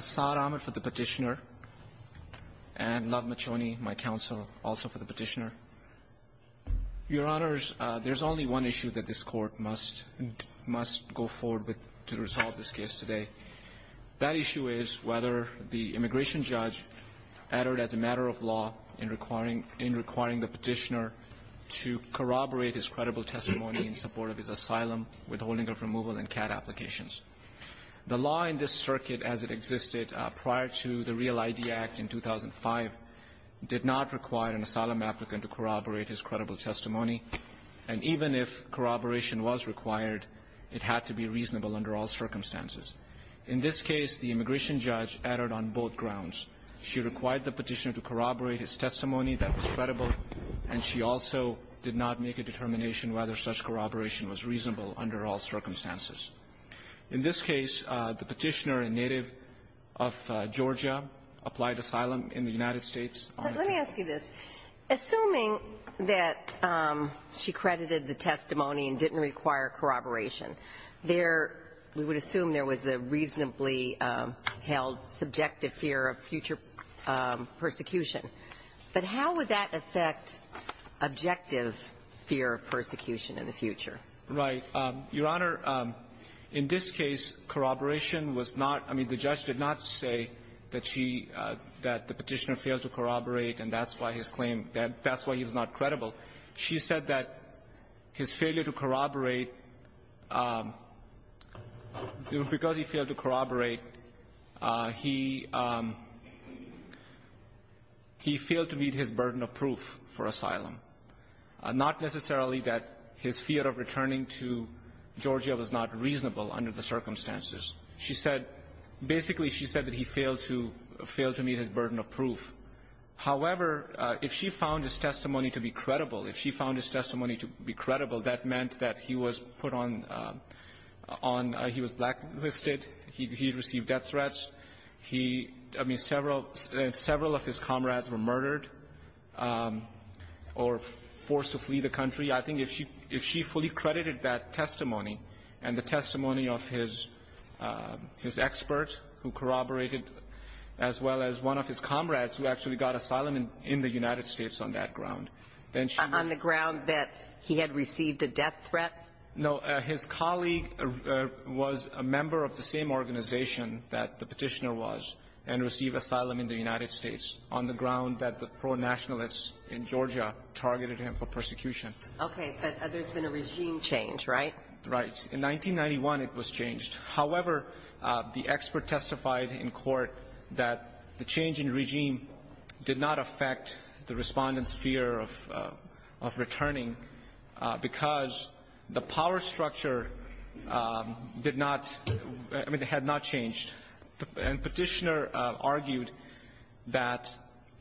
Saad Ahmed for the petitioner and Lov Machoni, my counsel, also for the petitioner. Your Honors, there's only one issue that this Court must go forward with to resolve this case today. That issue is whether the immigration judge uttered as a matter of law in requiring the petitioner to corroborate his credible testimony in support of his asylum, withholding of removal, and CAD applications. The law in this circuit as it existed prior to the Real ID Act in 2005 did not require an asylum applicant to corroborate his credible testimony, and even if corroboration was required, it had to be reasonable under all circumstances. In this case, the immigration judge uttered on both grounds. She required the petitioner to corroborate his testimony that was credible, and she also did not make a determination whether such corroboration was reasonable under all circumstances. In this case, the petitioner, a native of Georgia, applied asylum in the United States. Let me ask you this. Assuming that she credited the testimony and didn't require corroboration, there we would assume there was a reasonably held subjective fear of future persecution, but how would that affect objective fear of persecution in the future? Right. Your Honor, in this case, corroboration was not – I mean, the judge did not say that she – that the petitioner failed to corroborate and that's why his claim – that's why he was not credible. She said that his failure to corroborate – because he failed to corroborate, he – he failed to meet his burden of proof for asylum, not necessarily that his fear of returning to Georgia was not reasonable under the circumstances. She said – basically, she said that he failed to – failed to meet his burden of proof. However, if she found his testimony to be credible, if she found his testimony to be credible, that meant that he was put on – on – he was blacklisted, he had received death threats, he – I mean, several – several of his comrades were murdered or forced to flee the country. I think if she – if she fully credited that testimony and the testimony of his – his expert who corroborated, as well as one of his comrades who actually got asylum in the United States on that ground, then she would – On the ground that he had received a death threat? No. His colleague was a member of the same organization that the petitioner was and received asylum in the United States on the ground that the pro-nationalists in Georgia targeted him for persecution. Okay. But there's been a regime change, right? Right. In 1991, it was changed. However, the expert testified in court that the change in regime did not affect the Respondent's fear of – of returning because the power argued that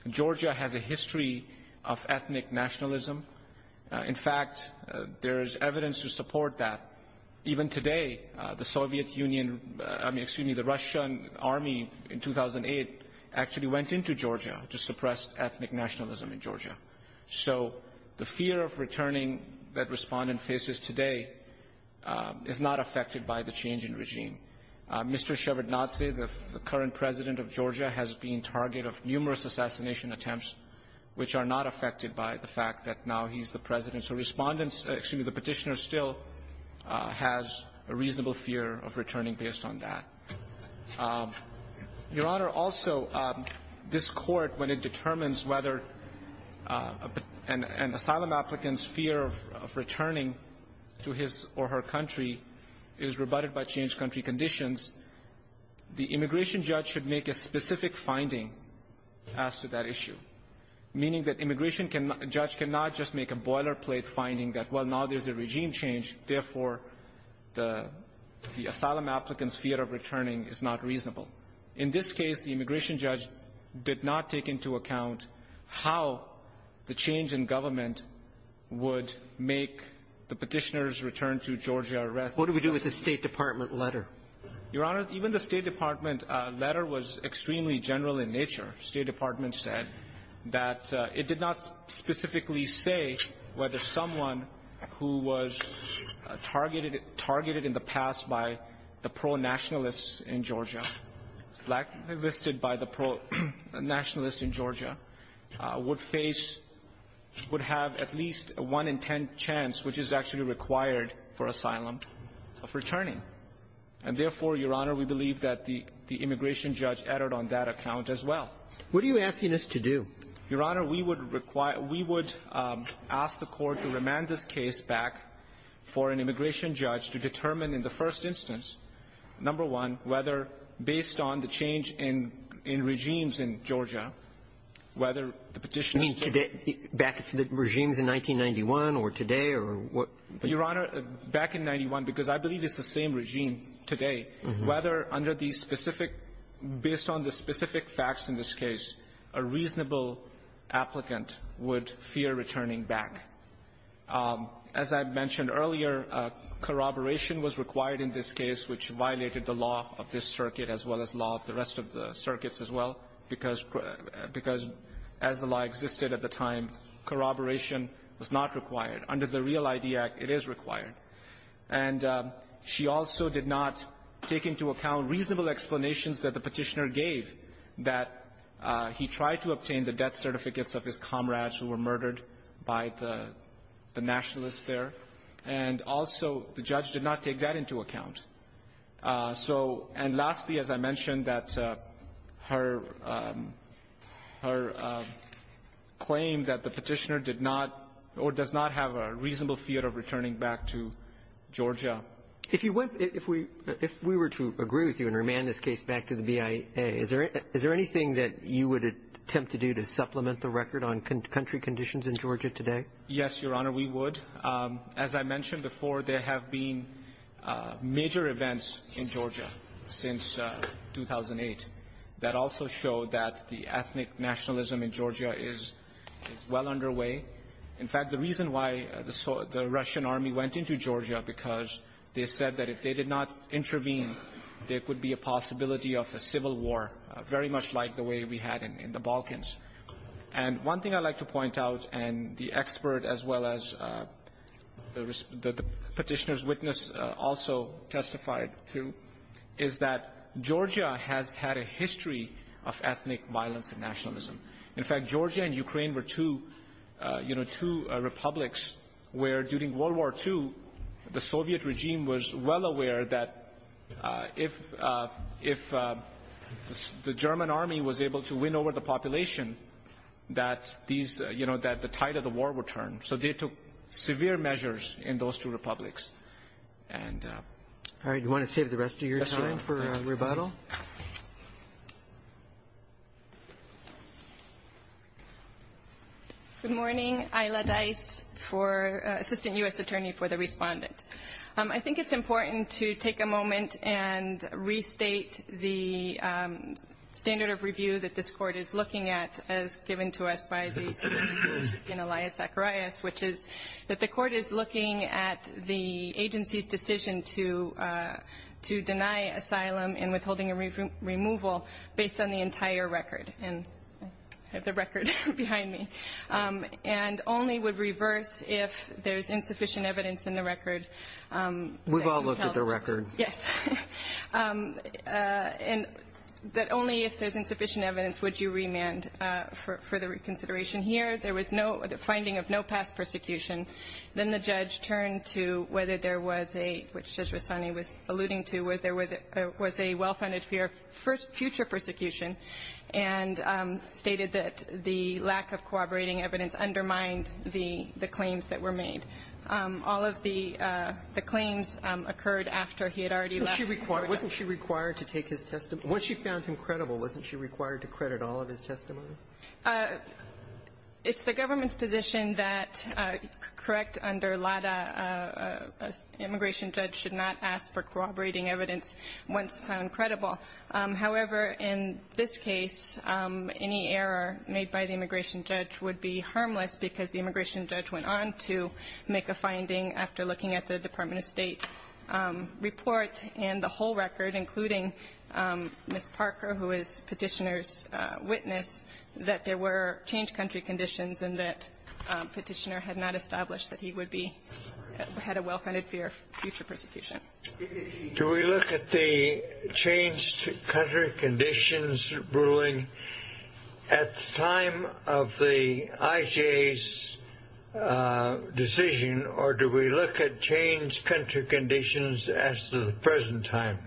Georgia has a history of ethnic nationalism. In fact, there is evidence to support that. Even today, the Soviet Union – I mean, excuse me, the Russian Army in 2008 actually went into Georgia to suppress ethnic nationalism in Georgia. So the fear of returning that Respondent faces today is not affected by the change in regime. Mr. Shevardnadze, the current President of Georgia, has been target of numerous assassination attempts which are not affected by the fact that now he's the President. So Respondent's – excuse me, the petitioner still has a reasonable fear of returning based on that. Your Honor, also, this Court, when it determines whether an asylum applicant's fear of returning to his or her country is rebutted by changed country conditions, the immigration judge should make a specific finding as to that issue, meaning that immigration can – judge cannot just make a boilerplate finding that, well, now there's a regime change, therefore, the – the asylum applicant's fear of returning is not reasonable. In this case, the immigration judge did not take into account how the change in government would make the petitioner's return to Georgia a reasonable issue. What do we do with the State Department letter? Your Honor, even the State Department letter was extremely general in nature. State Department said that it did not specifically say whether someone who was targeted in the past by the pro-nationalists in Georgia, blacklisted by the pro-nationalists in Georgia, would face – would have at least a one-in-ten chance, which is actually required for asylum, of returning. And therefore, Your Honor, we believe that the – the immigration judge erred on that account as well. What are you asking us to do? Your Honor, we would require – we would ask the Court to remand this case back for an immigration judge to determine in the first instance, number one, whether, based on the change in – in regimes in Georgia, whether the petitioner's return to Georgia is reasonable. You mean today – back to the regimes in 1991 or today or what? Your Honor, back in 91, because I believe it's the same regime today, whether under the specific – based on the specific facts in this case, a reasonable applicant would fear returning back. As I mentioned earlier, corroboration was required in this case, which violated the law of this circuit as well as law of the rest of the circuits as well, because – because as the law existed at the time, corroboration was not required. Under the Real ID Act, it is required. And she also did not take into account reasonable explanations that the petitioner gave that he tried to obtain the death certificates of his comrades who were murdered by the – the nationalists there. And also, the judge did not take that into account. So – and lastly, as I mentioned, that her – her claim that the petitioner did not or does not have a reasonable fear of returning back to Georgia. If you went – if we – if we were to agree with you and remand this case back to the BIA, is there – is there anything that you would attempt to do to supplement the record on country conditions in Georgia today? Yes, Your Honor, we would. As I mentioned before, there have been major events in Georgia since 2008 that also show that the ethnic nationalism in Georgia is – is well underway. In fact, the reason why the – the Russian army went into Georgia, because they said that if they did not intervene, there could be a possibility of a civil war, very much like the way we had in – in the Balkans. And one thing I'd like to point out, and the expert as well as the – the nationalism. In fact, Georgia and Ukraine were two, you know, two republics where, during World War II, the Soviet regime was well aware that if – if the German army was able to win over the population, that these – you know, that the tide of the war would turn. So they took severe measures in those two republics. All right. Do you want to save the rest of your time for rebuttal? Yes, Your Honor. Good morning. Isla Dice for – Assistant U.S. Attorney for the Respondent. I think it's important to take a moment and restate the standard of review that this Court is looking at as given to us by the Supreme Court in Elias Zacharias, which is that the Court is looking at the agency's decision to – to deny asylum and withholding a removal based on the entire record. And I have the record behind me. And only would reverse if there's insufficient evidence in the record. We've all looked at the record. Yes. And that only if there's insufficient evidence would you remand for the reconsideration. The request in here, there was no – the finding of no past persecution. Then the judge turned to whether there was a – which Judge Rossanni was alluding to – whether there was a well-funded fear of future persecution and stated that the lack of corroborating evidence undermined the claims that were made. Wasn't she required to take his testimony? Once she found him credible, wasn't she required to credit all of his testimony? It's the government's position that, correct under LADA, an immigration judge should not ask for corroborating evidence once found credible. However, in this case, any error made by the immigration judge would be harmless because the immigration judge went on to make a finding after looking at the Department of State report and the whole record, including Ms. Parker, who is Petitioner's witness, that there were changed country conditions and that Petitioner had not established that he would be – had a well-funded fear of future persecution. Do we look at the changed country conditions ruling at the time of the IJ's decision or do we look at changed country conditions as of the present time?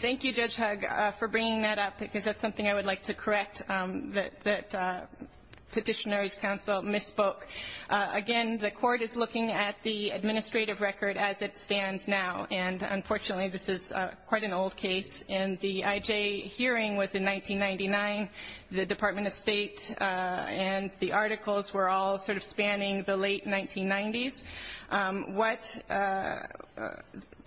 Thank you, Judge Hugg, for bringing that up because that's something I would like to correct, that Petitioner's counsel misspoke. Again, the court is looking at the administrative record as it stands now, and unfortunately this is quite an old case, and the IJ hearing was in 1999. The Department of State and the articles were all sort of spanning the late 1990s. What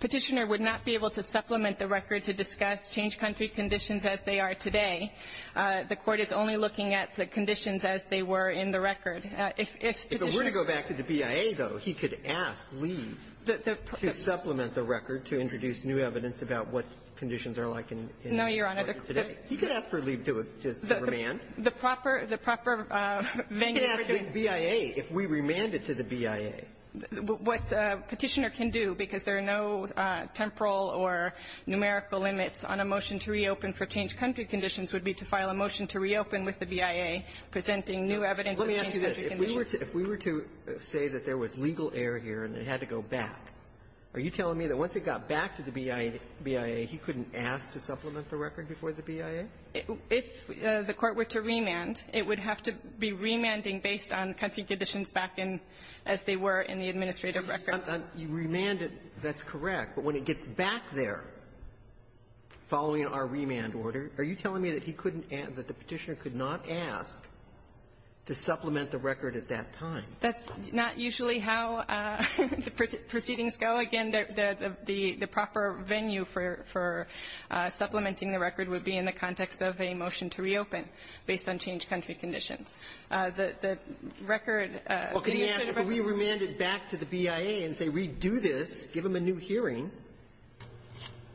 Petitioner would not be able to supplement the record to discuss changed country conditions as they are today. The court is only looking at the conditions as they were in the record. If Petitioner – If it were to go back to the BIA, though, he could ask Lee to supplement the record to introduce new evidence about what conditions are like in the court today. No, Your Honor. He could ask for Lee to remand. The proper venue for doing – He could ask the BIA if we remanded to the BIA. What Petitioner can do, because there are no temporal or numerical limits on a motion to reopen for changed country conditions, would be to file a motion to reopen with the BIA presenting new evidence of changed country conditions. Let me ask you this. If we were to say that there was legal error here and it had to go back, are you telling me that once it got back to the BIA, he couldn't ask to supplement the record before the BIA? If the court were to remand, it would have to be remanding based on country conditions back in as they were in the administrative record. You remanded. That's correct. But when it gets back there, following our remand order, are you telling me that he couldn't – that the Petitioner could not ask to supplement the record at that time? That's not usually how proceedings go. Again, the proper venue for supplementing the record would be in the context of a motion to reopen based on changed country conditions. The record – Well, could he ask if we remanded back to the BIA and say, we do this, give him a new hearing,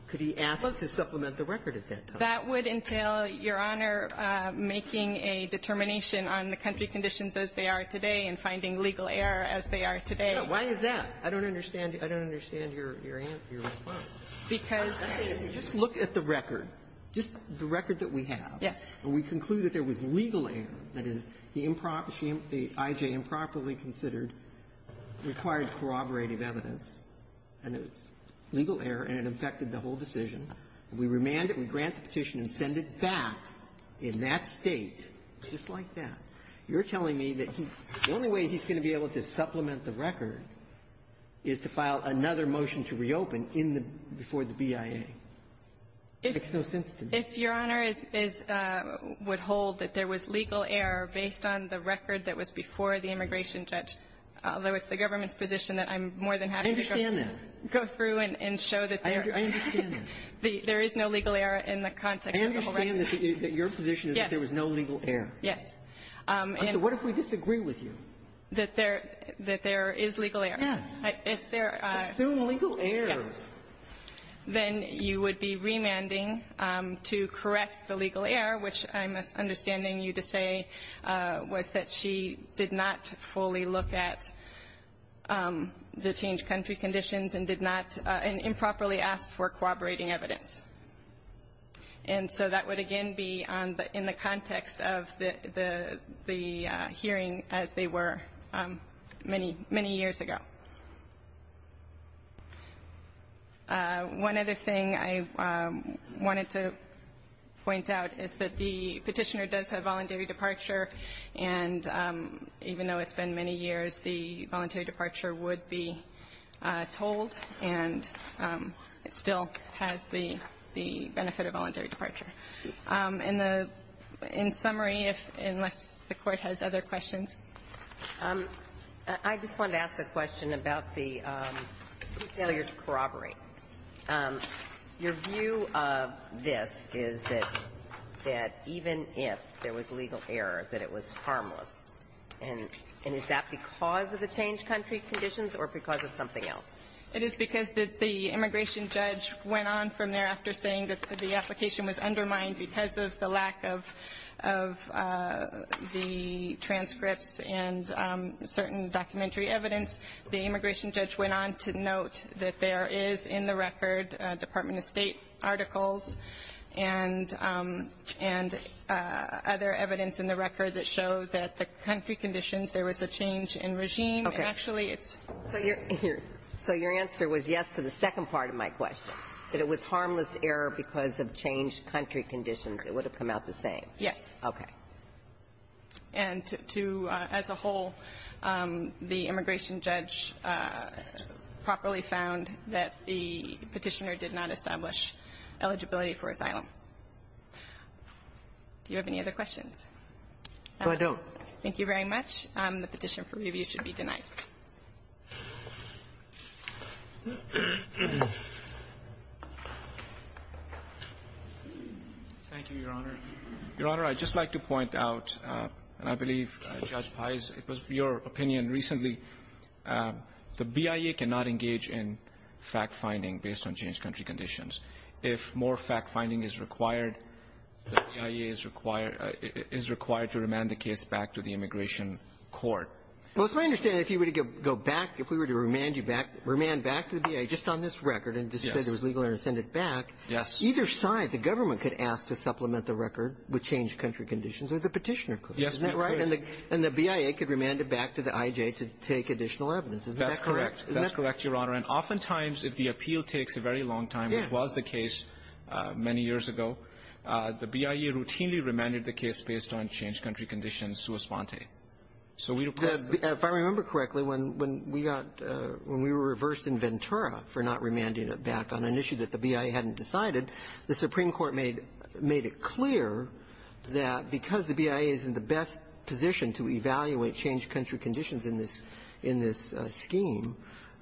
could he ask to supplement the record at that time? That would entail, Your Honor, making a determination on the country conditions as they are today and finding legal error as they are today. No. Why is that? I don't understand. I don't understand your answer, your response. Because the thing is, you just look at the record, just the record that we have. Yes. And we conclude that there was legal error. That is, the improper – the I.J. improperly considered required corroborative evidence, and it was legal error, and it affected the whole decision. We remand it. We grant the petition and send it back in that State, just like that. You're telling me that he – the only way he's going to be able to supplement the record is to file another motion to reopen in the – before the BIA. It makes no sense to me. If Your Honor is – would hold that there was legal error based on the record that was before the immigration judge, although it's the government's position that I'm more than happy to go through and show that there – I understand that. There is no legal error in the context of the whole record. I understand that your position is that there was no legal error. Yes. And so what if we disagree with you? That there – that there is legal error. Yes. If there are – Assume legal error. Yes. Then you would be remanding to correct the legal error, which I'm understanding you to say was that she did not fully look at the change country conditions and did not – and improperly asked for corroborating evidence. And so that would again be on the – in the context of the hearing as they were many, many years ago. One other thing I wanted to point out is that the Petitioner does have voluntary departure, and even though it's been many years, the voluntary departure would be told, and it still has the benefit of voluntary departure. In the – in summary, unless the Court has other questions. I just wanted to ask a question about the failure to corroborate. Your view of this is that even if there was legal error, that it was harmless. And is that because of the change country conditions or because of something else? It is because that the immigration judge went on from there after saying that the application was undermined because of the lack of the transcripts and certain documentary evidence. The immigration judge went on to note that there is in the record Department of country conditions there was a change in regime. Okay. And actually, it's – So your – so your answer was yes to the second part of my question, that it was harmless error because of changed country conditions. It would have come out the same. Yes. Okay. And to – as a whole, the immigration judge properly found that the Petitioner did not establish eligibility for asylum. Do you have any other questions? No, I don't. Thank you very much. The petition for review should be denied. Thank you, Your Honor. Your Honor, I'd just like to point out, and I believe Judge Pais, it was your opinion recently, the BIA cannot engage in fact-finding based on changed country conditions. If more fact-finding is required, the BIA is required – is required to remand the case back to the immigration court. Well, it's my understanding, if you were to go back – if we were to remand you back – remand back to the BIA just on this record and just say there was legal error and send it back, either side, the government could ask to supplement the record with changed country conditions or the Petitioner could. Yes, we could. Isn't that right? And the BIA could remand it back to the IJ to take additional evidence. Isn't that correct? Isn't that correct, Your Honor? And oftentimes, if the appeal takes a very long time, as was the case many years ago, the BIA routinely remanded the case based on changed country conditions sua sponte. So we request the – If I remember correctly, when we got – when we were reversed in Ventura for not remanding it back on an issue that the BIA hadn't decided, the Supreme Court made it clear that because the BIA is in the best position to evaluate changed country conditions in this – in this scheme,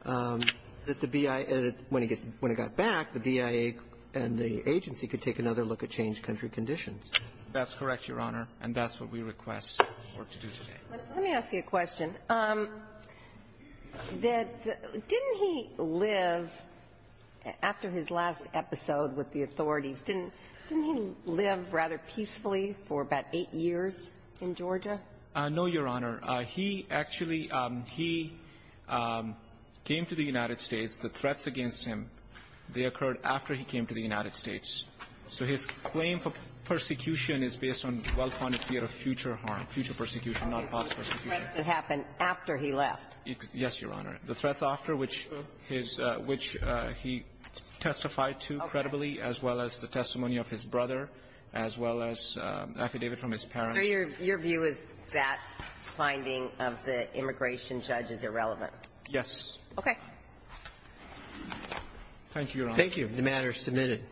that the BIA – when it gets – when it got back, the BIA and the agency could take another look at changed country conditions. That's correct, Your Honor, and that's what we request for it to do today. Let me ask you a question. Didn't he live, after his last episode with the authorities, didn't he live rather peacefully for about eight years in Georgia? No, Your Honor. He actually – he came to the United States. The threats against him, they occurred after he came to the United States. So his claim for persecution is based on well-founded fear of future harm, future persecution, not false persecution. The threats that happened after he left. Yes, Your Honor. The threats after, which his – which he testified to credibly, as well as the testimony of his brother, as well as affidavit from his parents. Your view is that finding of the immigration judge is irrelevant? Yes. Thank you, Your Honor. Thank you. The matter is submitted.